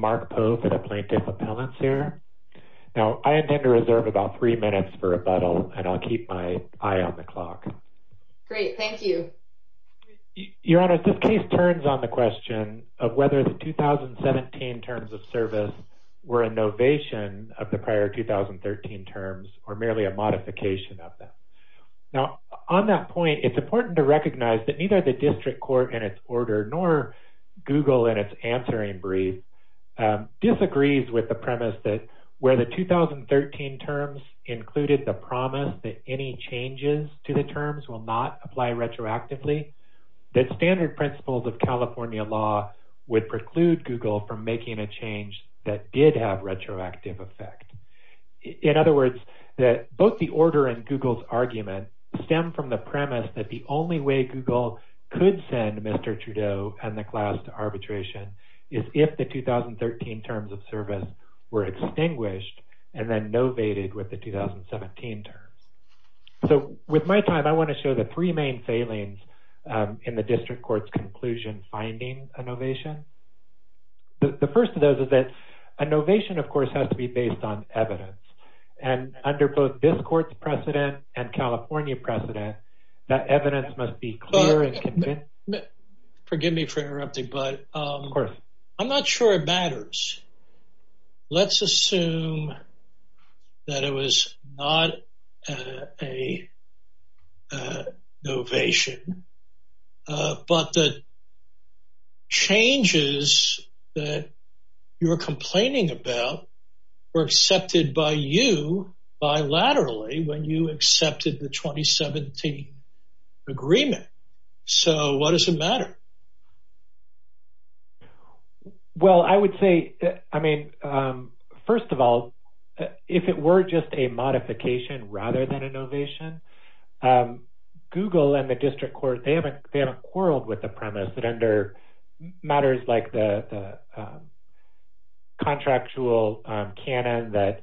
Mark Poe, Plaintiff Appellants I intend to reserve about 3 minutes for rebuttal and I'll keep my eye on the clock. Great, thank you. Your Honor, this case turns on the question of whether the 2017 terms of service were a novation of the prior 2013 terms or merely a modification of them. Now, on that point, it's important to recognize that neither the district court in its order nor Google in its answering brief disagrees with the premise that where the 2013 terms included the promise that any changes to the terms will not apply retroactively, that standard principles of California law would preclude Google from making a change that did have retroactive effect. In other words, that both the order and Google's argument stem from the premise that the only way Google could send Mr. Trudeau and the class to arbitration is if the 2013 terms of service were extinguished and then novated with the 2017 terms. So, with my time, I want to show the three main failings in the district court's conclusion finding a novation. The first of those is that a novation, of course, has to be based on evidence. And under both this court's precedent and California precedent, that evidence must be clear and convincing. Forgive me for interrupting, but I'm not sure it matters. Let's assume that it was not a novation, but the changes that you're complaining about were accepted by you bilaterally when you accepted the 2017 agreement. So, what does it matter? Well, I would say, I mean, first of all, if it were just a modification rather than a novation, Google and the district court, they haven't quarreled with the premise that under matters like the contractual canon that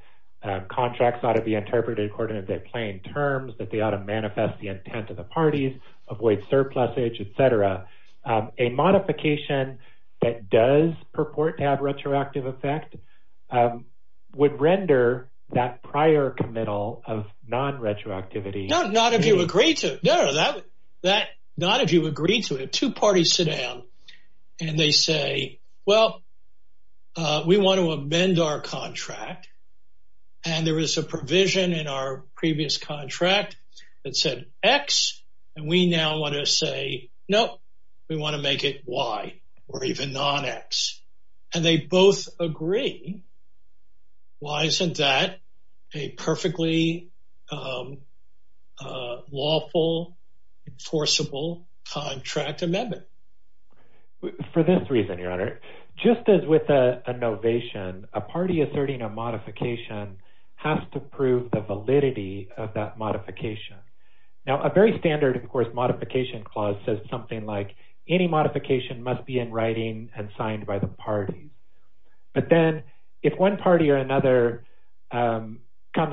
contracts ought to be interpreted according to their plain terms, that they ought to manifest the intent of the parties, avoid surplus age, etc. A modification that does purport to have retroactive effect would render that prior committal of non-retroactivity. No, not if you agree to it. Two parties sit down and they say, well, we want to amend our contract, and there is a provision in our previous contract that said X, and we now want to say, no, we want to make it Y or even non-X. And they both agree. Why isn't that a perfectly lawful, enforceable contract amendment? For this reason, Your Honor, just as with a novation, a party asserting a modification has to prove the validity of that modification. Now, a very standard, of course, modification clause says something like any modification must be in writing and signed by the parties. But then if one party or another comes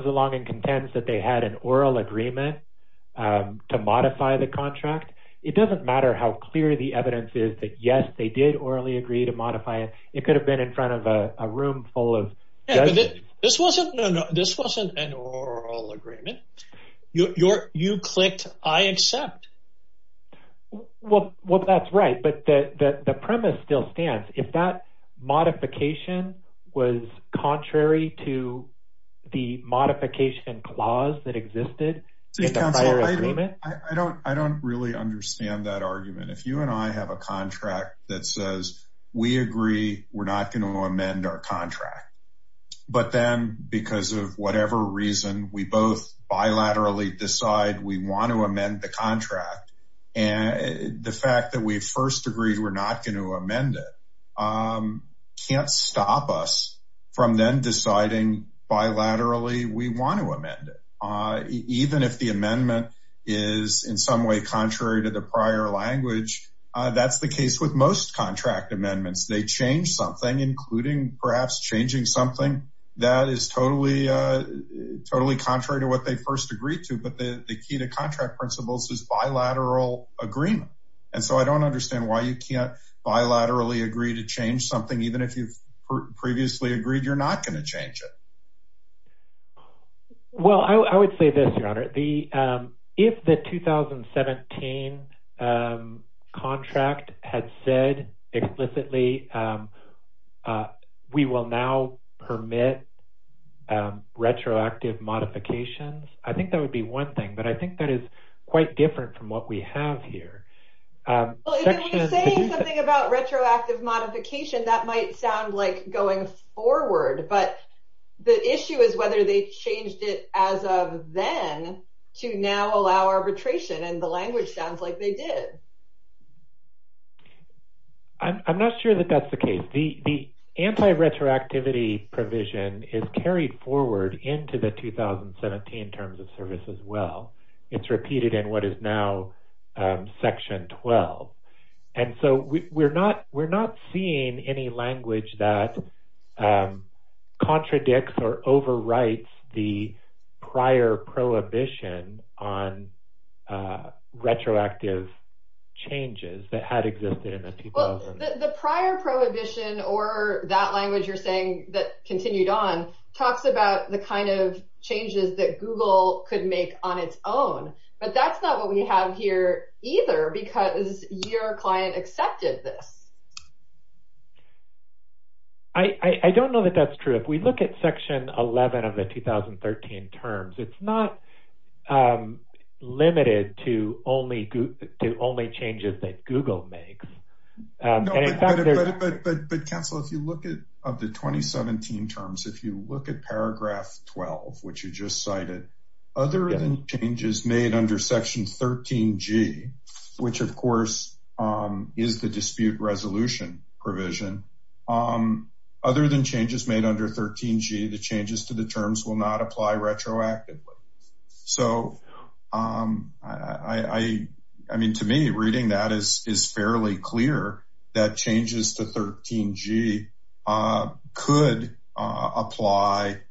along and contends that they had an oral agreement to modify the contract, it doesn't matter how clear the evidence is that, yes, they did orally agree to modify it. It could have been in front of a room full of judges. This wasn't an oral agreement. You clicked I accept. Well, that's right, but the premise still stands. If that modification was contrary to the modification clause that existed in the prior agreement. I don't really understand that argument. If you and I have a contract that says we agree we're not going to amend our contract. But then because of whatever reason, we both bilaterally decide we want to amend the contract. And the fact that we first agreed we're not going to amend it can't stop us from then deciding bilaterally. We want to amend it, even if the amendment is in some way contrary to the prior language. That's the case with most contract amendments. They change something, including perhaps changing something that is totally, totally contrary to what they first agreed to. But the key to contract principles is bilateral agreement. And so I don't understand why you can't bilaterally agree to change something, even if you've previously agreed you're not going to change it. Well, I would say this, Your Honor. If the 2017 contract had said explicitly we will now permit retroactive modifications, I think that would be one thing. But I think that is quite different from what we have here. When you're saying something about retroactive modification, that might sound like going forward. But the issue is whether they changed it as of then to now allow arbitration. And the language sounds like they did. I'm not sure that that's the case. The anti-retroactivity provision is carried forward into the 2017 Terms of Service as well. It's repeated in what is now Section 12. And so we're not seeing any language that contradicts or overwrites the prior prohibition on retroactive changes that had existed in the 2000s. Well, the prior prohibition or that language you're saying that continued on talks about the kind of changes that Google could make on its own. But that's not what we have here either because your client accepted this. I don't know that that's true. If we look at Section 11 of the 2013 terms, it's not limited to only changes that Google makes. But Councilor, if you look at the 2017 terms, if you look at paragraph 12, which you just cited, other than changes made under Section 13G, which of course is the dispute resolution provision. Other than changes made under 13G, the changes to the terms will not apply retroactively. So I mean, to me, reading that is fairly clear that changes to 13G could apply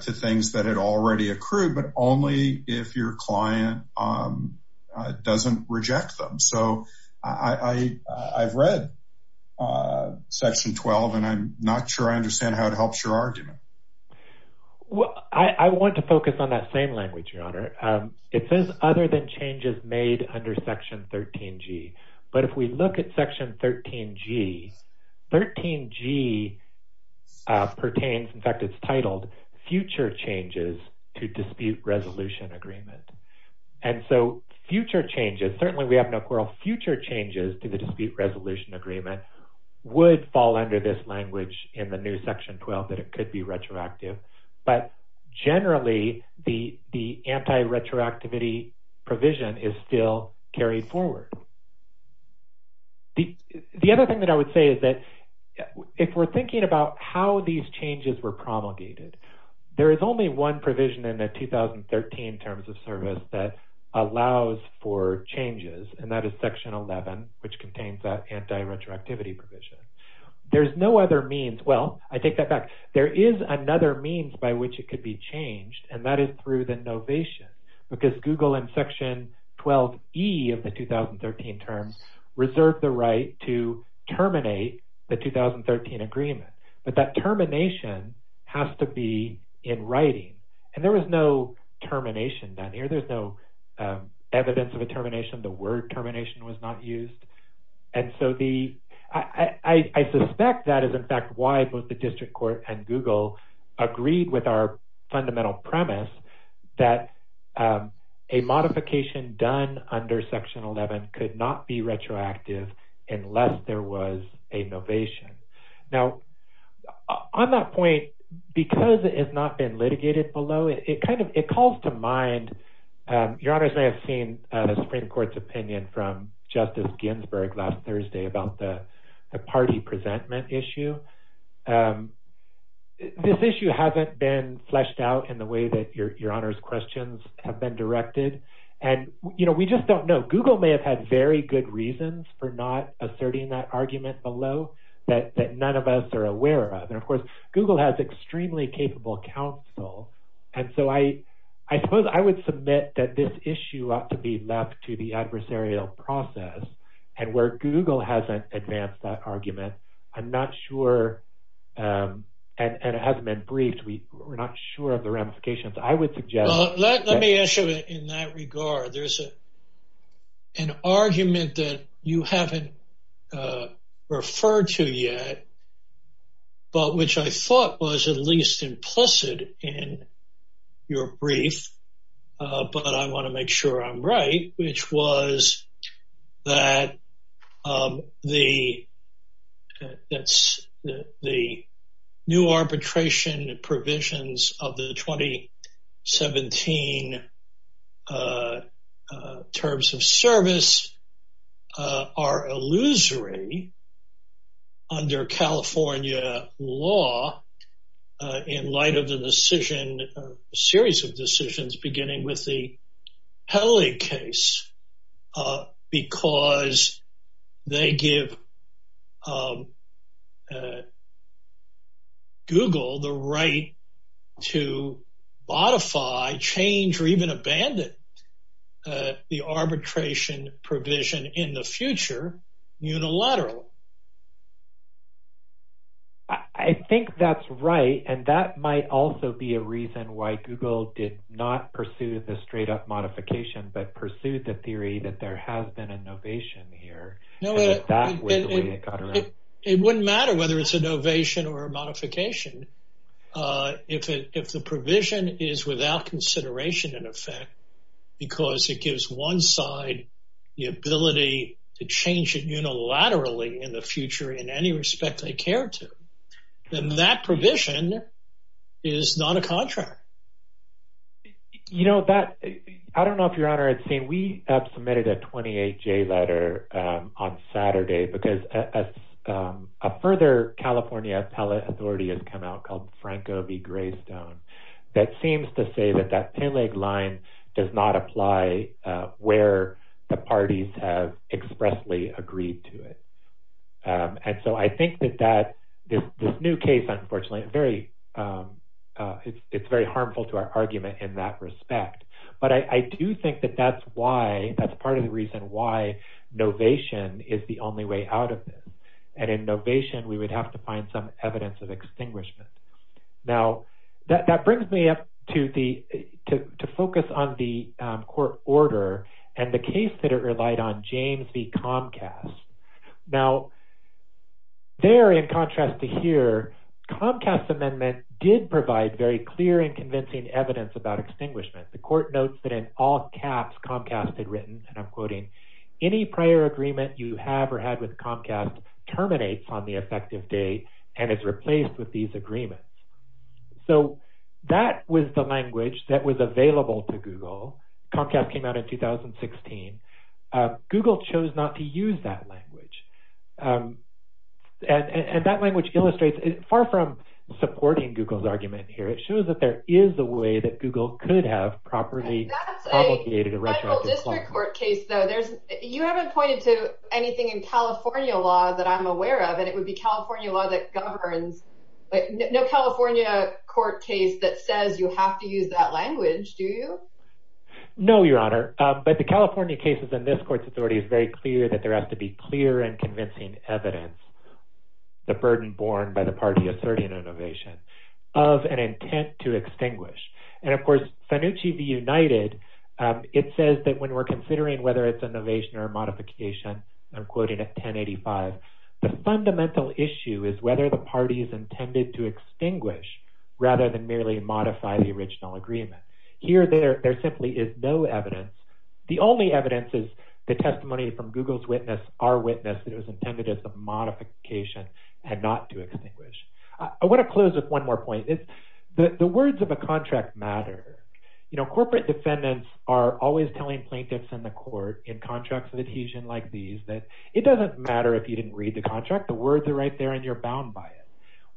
to things that had already accrued, but only if your client doesn't reject them. So I've read Section 12, and I'm not sure I understand how it helps your argument. Well, I want to focus on that same language, Your Honor. It says other than changes made under Section 13G. But if we look at Section 13G, 13G pertains, in fact, it's titled future changes to dispute resolution agreement. And so future changes, certainly we have no quarrel, future changes to the dispute resolution agreement would fall under this language in the new Section 12 that it could be retroactive. But generally, the anti-retroactivity provision is still carried forward. The other thing that I would say is that if we're thinking about how these changes were promulgated, there is only one provision in the 2013 Terms of Service that allows for changes, and that is Section 11, which contains that anti-retroactivity provision. There's no other means – well, I take that back. There is another means by which it could be changed, and that is through the novation, because Google in Section 12E of the 2013 Terms reserved the right to terminate the 2013 agreement. But that termination has to be in writing, and there was no termination down here. There's no evidence of a termination. The word termination was not used. And so the – I suspect that is, in fact, why both the district court and Google agreed with our fundamental premise that a modification done under Section 11 could not be retroactive unless there was a novation. Now, on that point, because it has not been litigated below, it kind of – it calls to mind – Your Honors may have seen the Supreme Court's opinion from Justice Ginsburg last Thursday about the party presentment issue. This issue hasn't been fleshed out in the way that Your Honors' questions have been directed. And we just don't know. Google may have had very good reasons for not asserting that argument below that none of us are aware of. And, of course, Google has extremely capable counsel. And so I suppose I would submit that this issue ought to be left to the adversarial process. And where Google hasn't advanced that argument, I'm not sure – and it hasn't been briefed. We're not sure of the ramifications. Well, let me ask you in that regard. There's an argument that you haven't referred to yet, but which I thought was at least implicit in your brief, but I want to make sure I'm right, which was that the – that the new arbitration provisions of the 2017 terms of service are illusory under California law in light of the decision – a series of decisions beginning with the Peli case. Because they give Google the right to modify, change, or even abandon the arbitration provision in the future unilaterally. I think that's right. And that might also be a reason why Google did not pursue the straight-up modification but pursued the theory that there has been a novation here. It wouldn't matter whether it's a novation or a modification if the provision is without consideration in effect because it gives one side the ability to change it unilaterally in the future in any respect they care to. Then that provision is not a contract. You know, that – I don't know if Your Honor had seen. We have submitted a 28-J letter on Saturday because a further California appellate authority has come out called Franco v. Greystone that seems to say that that Peleg line does not apply where the parties have expressly agreed to it. And so I think that this new case, unfortunately, it's very harmful to our argument in that respect. But I do think that that's why – that's part of the reason why novation is the only way out of this. And in novation, we would have to find some evidence of extinguishment. Now, that brings me up to focus on the court order and the case that it relied on, James v. Comcast. Now, there in contrast to here, Comcast's amendment did provide very clear and convincing evidence about extinguishment. The court notes that in all caps Comcast had written, and I'm quoting, any prior agreement you have or had with Comcast terminates on the effective date and is replaced with these agreements. So that was the language that was available to Google. Comcast came out in 2016. Google chose not to use that language. And that language illustrates far from supporting Google's argument here. It shows that there is a way that Google could have properly promulgated a retroactive clause. That's a federal district court case, though. You haven't pointed to anything in California law that I'm aware of, and it would be California law that governs. No California court case that says you have to use that language, do you? No, Your Honor. But the California cases in this court's authority is very clear that there has to be clear and convincing evidence, the burden borne by the party asserting innovation, of an intent to extinguish. And, of course, Sanucci v. United, it says that when we're considering whether it's innovation or modification, I'm quoting at 1085, the fundamental issue is whether the party is intended to extinguish rather than merely modify the original agreement. Here, there simply is no evidence. The only evidence is the testimony from Google's witness, our witness, that it was intended as a modification and not to extinguish. I want to close with one more point. The words of a contract matter. You know, corporate defendants are always telling plaintiffs in the court in contracts of adhesion like these that it doesn't matter if you didn't read the contract. The words are right there, and you're bound by it.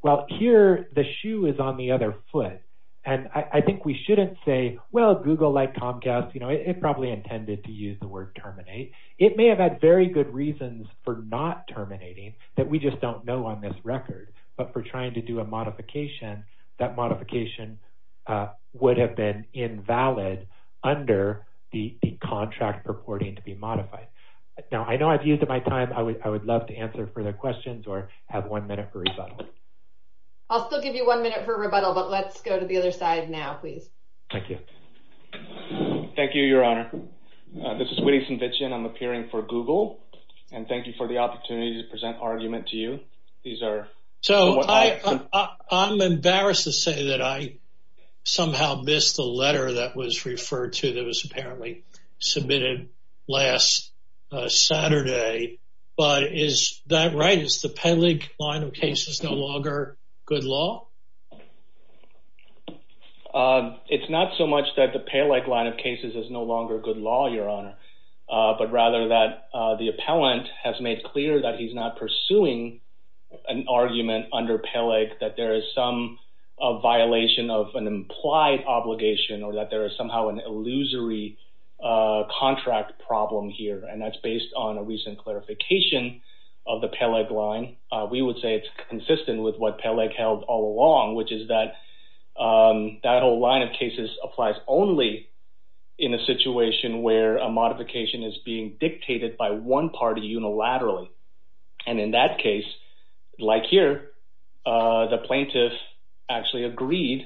Well, here, the shoe is on the other foot, and I think we shouldn't say, well, Google, like Comcast, you know, it probably intended to use the word terminate. It may have had very good reasons for not terminating that we just don't know on this record, but for trying to do a modification, that modification would have been invalid under the contract purporting to be modified. Now, I know I've used up my time. I would love to answer further questions or have one minute for rebuttal. I'll still give you one minute for rebuttal, but let's go to the other side now, please. Thank you. Thank you, Your Honor. This is William Sinvichian. I'm appearing for Google, and thank you for the opportunity to present argument to you. So, I'm embarrassed to say that I somehow missed the letter that was referred to that was apparently submitted last Saturday, but is that right? Is the Peleg line of cases no longer good law? It's not so much that the Peleg line of cases is no longer good law, Your Honor, but rather that the appellant has made clear that he's not pursuing an argument under Peleg that there is some violation of an implied obligation or that there is somehow an illusory contract problem here, and that's based on a recent clarification of the Peleg line. We would say it's consistent with what Peleg held all along, which is that that whole line of cases applies only in a situation where a modification is being dictated by one party unilaterally. And in that case, like here, the plaintiff actually agreed,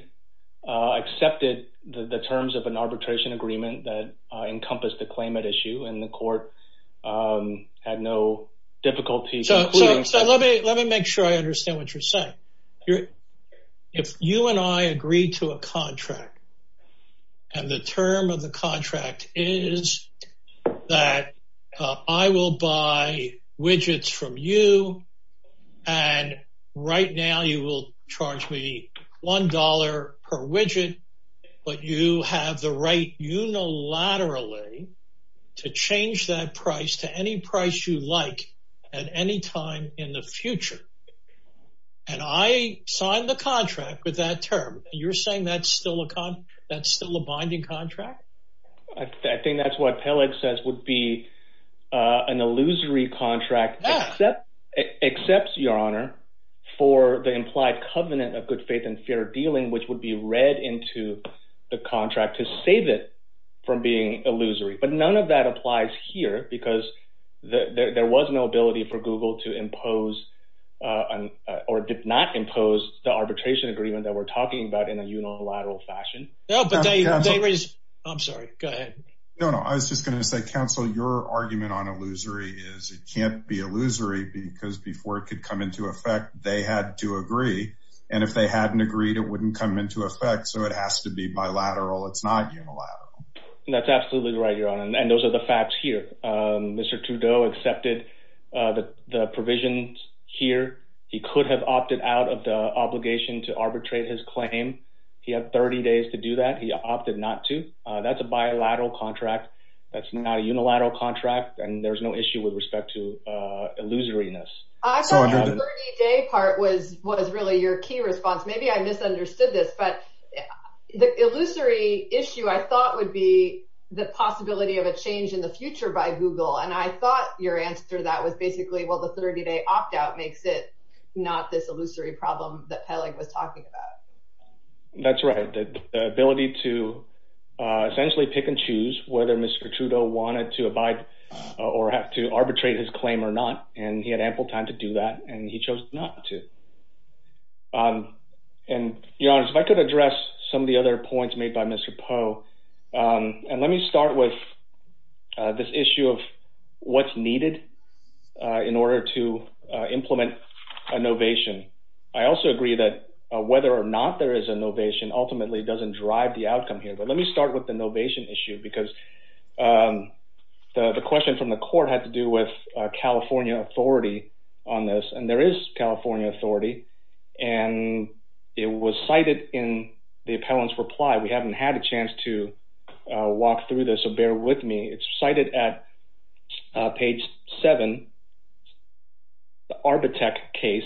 accepted the terms of an arbitration agreement that encompassed the claimant issue, and the court had no difficulty. So, let me make sure I understand what you're saying. If you and I agree to a contract, and the term of the contract is that I will buy widgets from you, and right now you will charge me $1 per widget, but you have the right unilaterally to change that price to any price you like at any time in the future, and I sign the contract with that term, you're saying that's still a binding contract? I think that's what Peleg says would be an illusory contract, except, Your Honor, for the implied covenant of good faith and fair dealing, which would be read into the contract to save it from being illusory. But none of that applies here because there was no ability for Google to impose or did not impose the arbitration agreement that we're talking about in a unilateral fashion. I'm sorry, go ahead. No, no, I was just going to say, counsel, your argument on illusory is it can't be illusory because before it could come into effect, they had to agree, and if they hadn't agreed, it wouldn't come into effect, so it has to be bilateral, it's not unilateral. That's absolutely right, Your Honor, and those are the facts here. Mr. Trudeau accepted the provisions here. He could have opted out of the obligation to arbitrate his claim. He had 30 days to do that. He opted not to. That's a bilateral contract. That's not a unilateral contract, and there's no issue with respect to illusoriness. I thought the 30-day part was really your key response. Maybe I misunderstood this, but the illusory issue I thought would be the possibility of a change in the future by Google, and I thought your answer to that was basically, well, the 30-day opt-out makes it not this illusory problem that Peleg was talking about. That's right. The ability to essentially pick and choose whether Mr. Trudeau wanted to abide or have to arbitrate his claim or not, and he had ample time to do that, and he chose not to, and Your Honor, if I could address some of the other points made by Mr. Poe, and let me start with this issue of what's needed in order to implement a novation. I also agree that whether or not there is a novation ultimately doesn't drive the outcome here, but let me start with the novation issue because the question from the court had to do with California authority on this, and there is California authority, and it was cited in the appellant's reply. We haven't had a chance to walk through this, so bear with me. It's cited at page 7, the Arbitec case,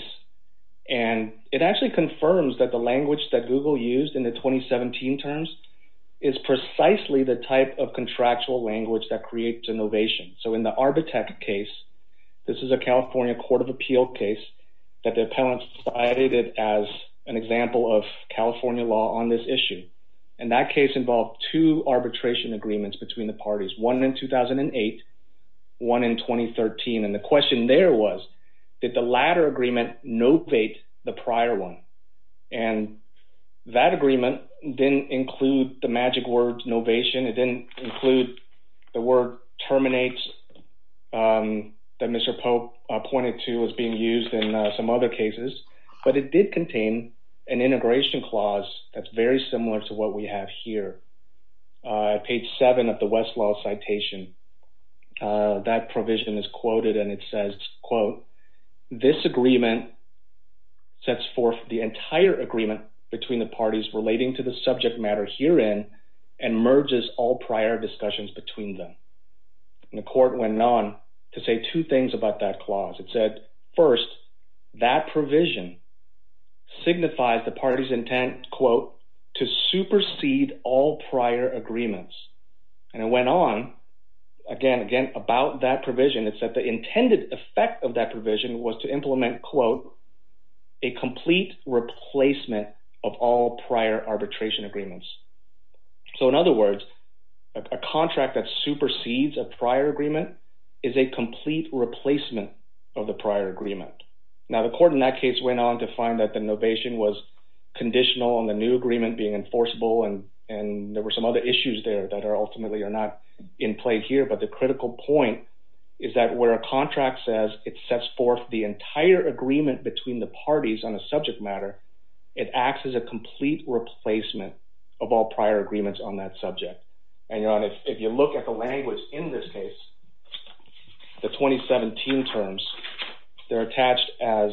and it actually confirms that the language that Google used in the 2017 terms is precisely the type of contractual language that creates a novation. So in the Arbitec case, this is a California court of appeal case that the appellant cited as an example of California law on this issue, and that case involved two arbitration agreements between the parties, one in 2008, one in 2013, and the question there was did the latter agreement novate the prior one, and that agreement didn't include the magic word novation. It didn't include the word terminate that Mr. Poe pointed to as being used in some other cases, but it did contain an integration clause that's very similar to what we have here. Page 7 of the Westlaw citation, that provision is quoted, and it says, quote, this agreement sets forth the entire agreement between the parties relating to the subject matter herein and merges all prior discussions between them. And the court went on to say two things about that clause. It said, first, that provision signifies the party's intent, quote, to supersede all prior agreements, and it went on again and again about that provision. It said the intended effect of that provision was to implement, quote, a complete replacement of all prior arbitration agreements. So in other words, a contract that supersedes a prior agreement is a complete replacement of the prior agreement. Now, the court in that case went on to find that the novation was conditional on the new agreement being enforceable, and there were some other issues there that ultimately are not in play here, but the critical point is that where a contract says it sets forth the entire agreement between the parties on a subject matter, it acts as a complete replacement of all prior agreements on that subject. And if you look at the language in this case, the 2017 terms, they're attached as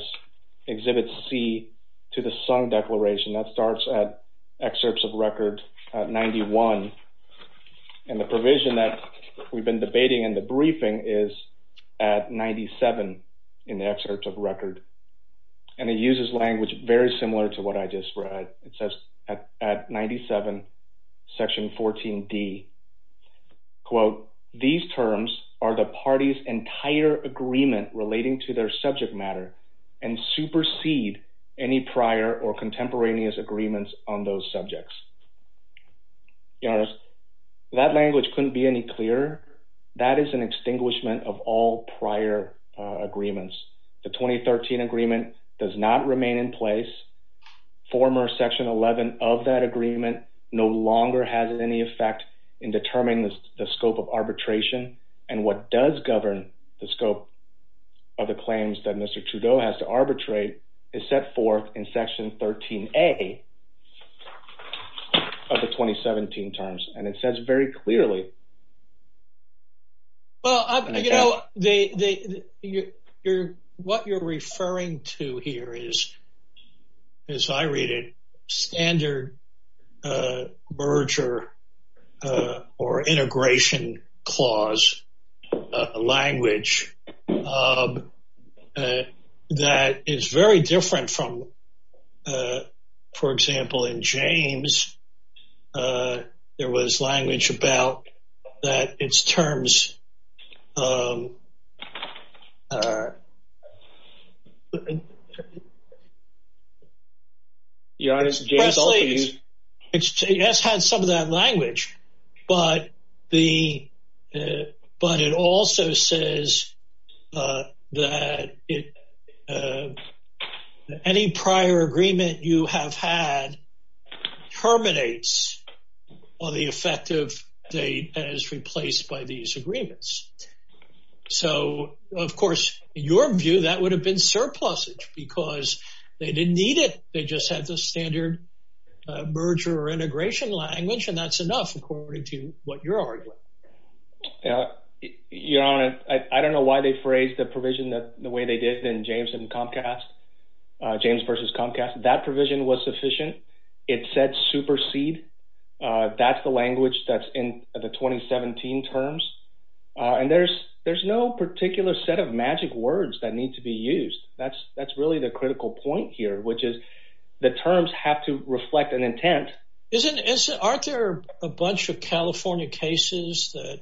Exhibit C to the sung declaration. That starts at Excerpts of Record 91, and the provision that we've been debating in the briefing is at 97 in the Excerpts of Record, and it uses language very similar to what I just read. It says at 97, Section 14D, quote, these terms are the party's entire agreement relating to their subject matter and supersede any prior or contemporaneous agreements on those subjects. Your Honor, that language couldn't be any clearer. That is an extinguishment of all prior agreements. The 2013 agreement does not remain in place. Former Section 11 of that agreement no longer has any effect in determining the scope of arbitration, and what does govern the scope of the claims that Mr. Trudeau has to arbitrate is set forth in Section 13A. Of the 2017 terms, and it says very clearly. There was language about that it's terms. Your Honor, this is James Alter. So, of course, in your view, that would have been surplusage because they didn't need it. They just had the standard merger or integration language, and that's enough according to what you're arguing. Your Honor, I don't know why they phrased the provision the way they did in James and Comcast, James versus Comcast. That provision was sufficient. It said supersede. That's the language that's in the 2017 terms, and there's no particular set of magic words that need to be used. That's really the critical point here, which is the terms have to reflect an intent. Aren't there a bunch of California cases that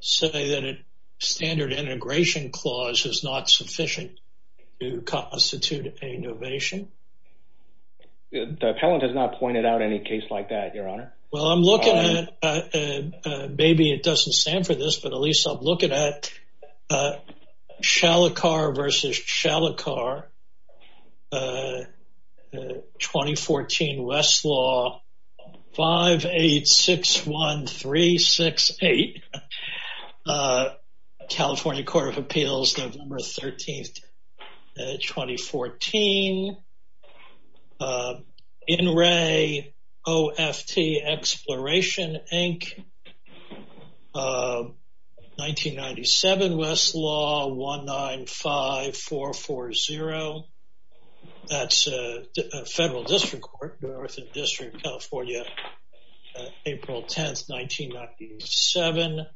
say that a standard integration clause is not sufficient to constitute a innovation? The appellant has not pointed out any case like that, Your Honor. Well, I'm looking at maybe it doesn't stand for this, but at least I'm looking at Shalikar versus Shalikar. 2014 Westlaw 5861368. California Court of Appeals, November 13, 2014. NRA OFT Exploration, Inc., 1997. Westlaw 195440. That's a federal district court, Northern District, California, April 10, 1997.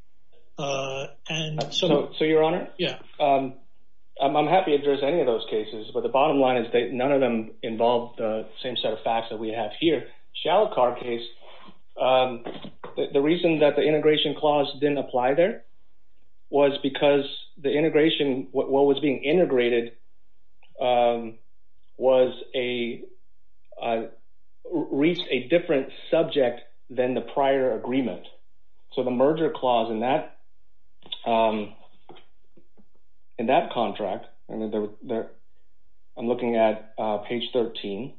So, Your Honor? Yeah. I'm happy to address any of those cases, but the bottom line is that none of them involve the same set of facts that we have here. Shalikar case, the reason that the integration clause didn't apply there was because the integration, what was being integrated reached a different subject than the prior agreement. So, the merger clause in that contract, I'm looking at page 13.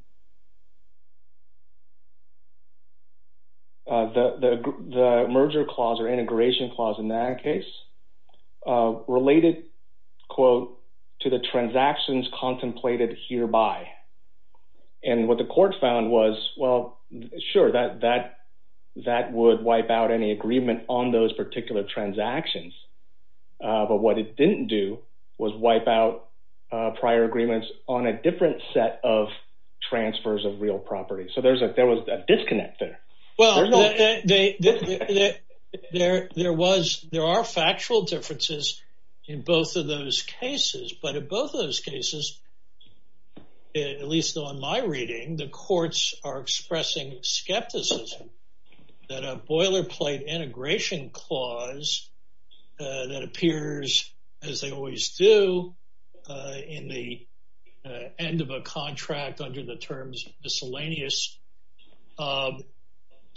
The merger clause or integration clause in that case related, quote, to the transactions contemplated hereby. And what the court found was, well, sure, that would wipe out any agreement on those particular transactions. But what it didn't do was wipe out prior agreements on a different set of transfers of real property. So, there was a disconnect there. Well, there are factual differences in both of those cases, but in both of those cases, at least on my reading, the courts are expressing skepticism that a boilerplate integration clause that appears, as they always do, in the end of a contract under the terms miscellaneous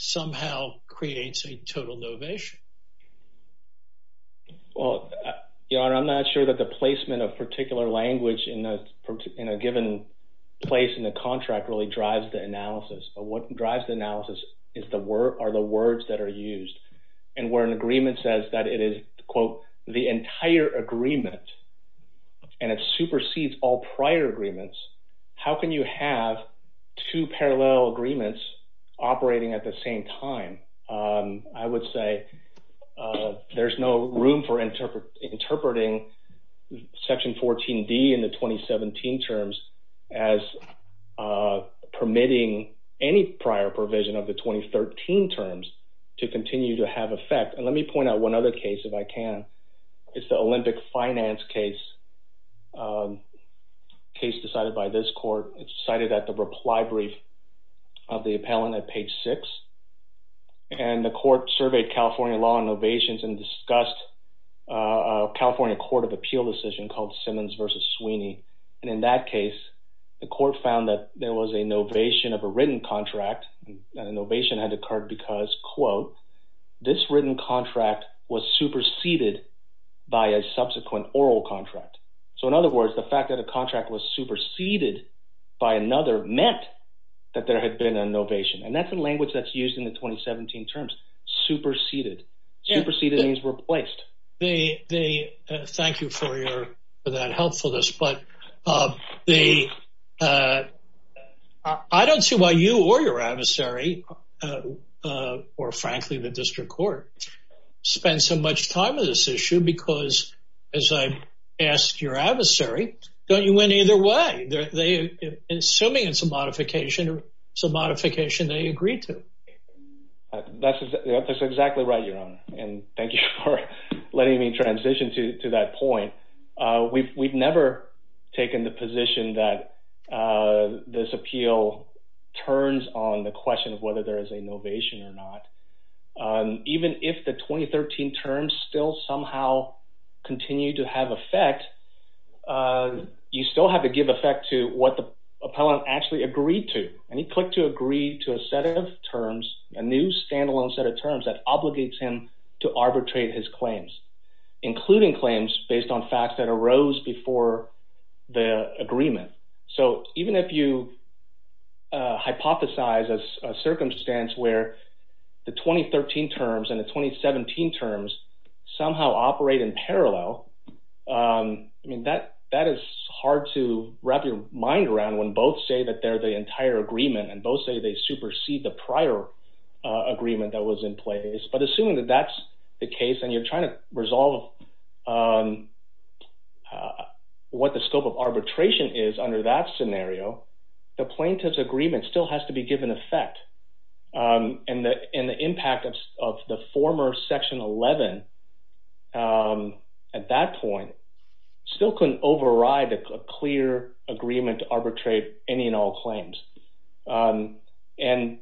somehow creates a total novation. Well, I'm not sure that the placement of particular language in a given place in the contract really drives the analysis. But what drives the analysis are the words that are used. And where an agreement says that it is, quote, the entire agreement and it supersedes all prior agreements, how can you have two parallel agreements operating at the same time? I would say there's no room for interpreting Section 14D in the 2017 terms as permitting any prior provision of the 2013 terms to continue to have effect. And let me point out one other case, if I can. It's the Olympic Finance case, a case decided by this court. It's cited at the reply brief of the appellant at page 6. And the court surveyed California law on novations and discussed a California court of appeal decision called Simmons v. Sweeney. And in that case, the court found that there was a novation of a written contract. And the novation had occurred because, quote, this written contract was superseded by a subsequent oral contract. So in other words, the fact that a contract was superseded by another meant that there had been a novation. And that's the language that's used in the 2017 terms, superseded. Superseded means replaced. Thank you for that helpfulness. But I don't see why you or your adversary, or frankly the district court, spend so much time on this issue. Because as I asked your adversary, don't you win either way? Assuming it's a modification, it's a modification they agreed to. That's exactly right, Your Honor. And thank you for letting me transition to that point. We've never taken the position that this appeal turns on the question of whether there is a novation or not. Even if the 2013 terms still somehow continue to have effect, you still have to give effect to what the appellant actually agreed to. And he clicked to agree to a set of terms, a new standalone set of terms that obligates him to arbitrate his claims, including claims based on facts that arose before the agreement. So even if you hypothesize a circumstance where the 2013 terms and the 2017 terms somehow operate in parallel, I mean, that is hard to wrap your mind around when both say that they're the entire agreement and both say they supersede the prior agreement that was in place. But assuming that that's the case and you're trying to resolve what the scope of arbitration is under that scenario, the plaintiff's agreement still has to be given effect. And the impact of the former Section 11 at that point still couldn't override a clear agreement to arbitrate any and all claims. And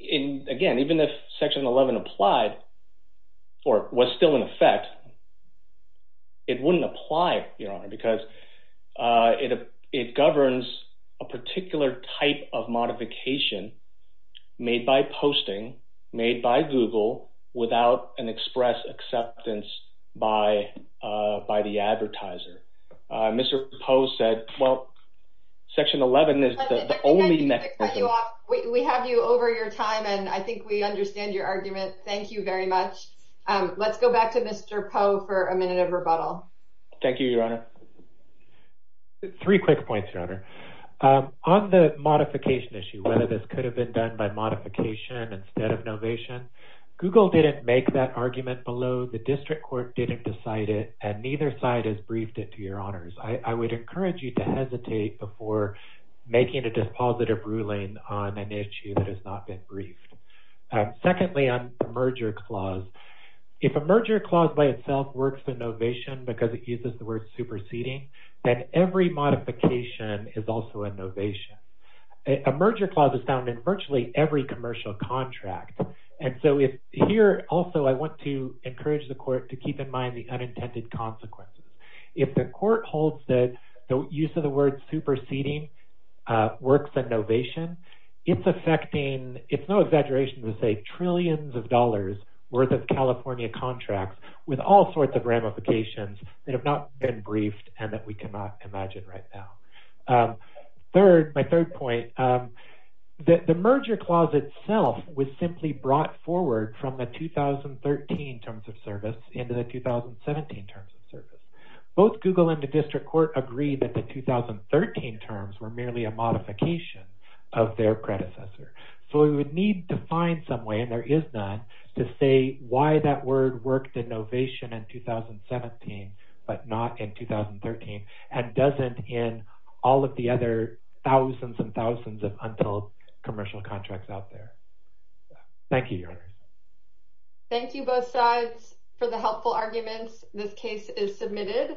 again, even if Section 11 applied or was still in effect, it wouldn't apply, Your Honor, because it governs a particular type of modification made by posting, made by Google, without an express acceptance by the advertiser. Mr. Poe said, well, Section 11 is the only— Let me cut you off. We have you over your time, and I think we understand your argument. Thank you very much. Let's go back to Mr. Poe for a minute of rebuttal. Thank you, Your Honor. Three quick points, Your Honor. On the modification issue, whether this could have been done by modification instead of novation, Google didn't make that argument below, the district court didn't decide it, and neither side has briefed it to Your Honors. I would encourage you to hesitate before making a dispositive ruling on an issue that has not been briefed. Secondly, on the merger clause, if a merger clause by itself works in novation because it uses the word superseding, then every modification is also a novation. A merger clause is found in virtually every commercial contract. And so here, also, I want to encourage the court to keep in mind the unintended consequences. If the court holds that the use of the word superseding works in novation, it's affecting—it's no exaggeration to say trillions of dollars worth of California contracts with all sorts of ramifications that have not been briefed and that we cannot imagine right now. Third, my third point, the merger clause itself was simply brought forward from the 2013 terms of service into the 2017 terms of service. Both Google and the district court agreed that the 2013 terms were merely a modification of their predecessor. So we would need to find some way, and there is none, to say why that word worked in novation in 2017 but not in 2013 and doesn't in all of the other thousands and thousands of untold commercial contracts out there. Thank you, Your Honors. Thank you, both sides, for the helpful arguments. This case is submitted.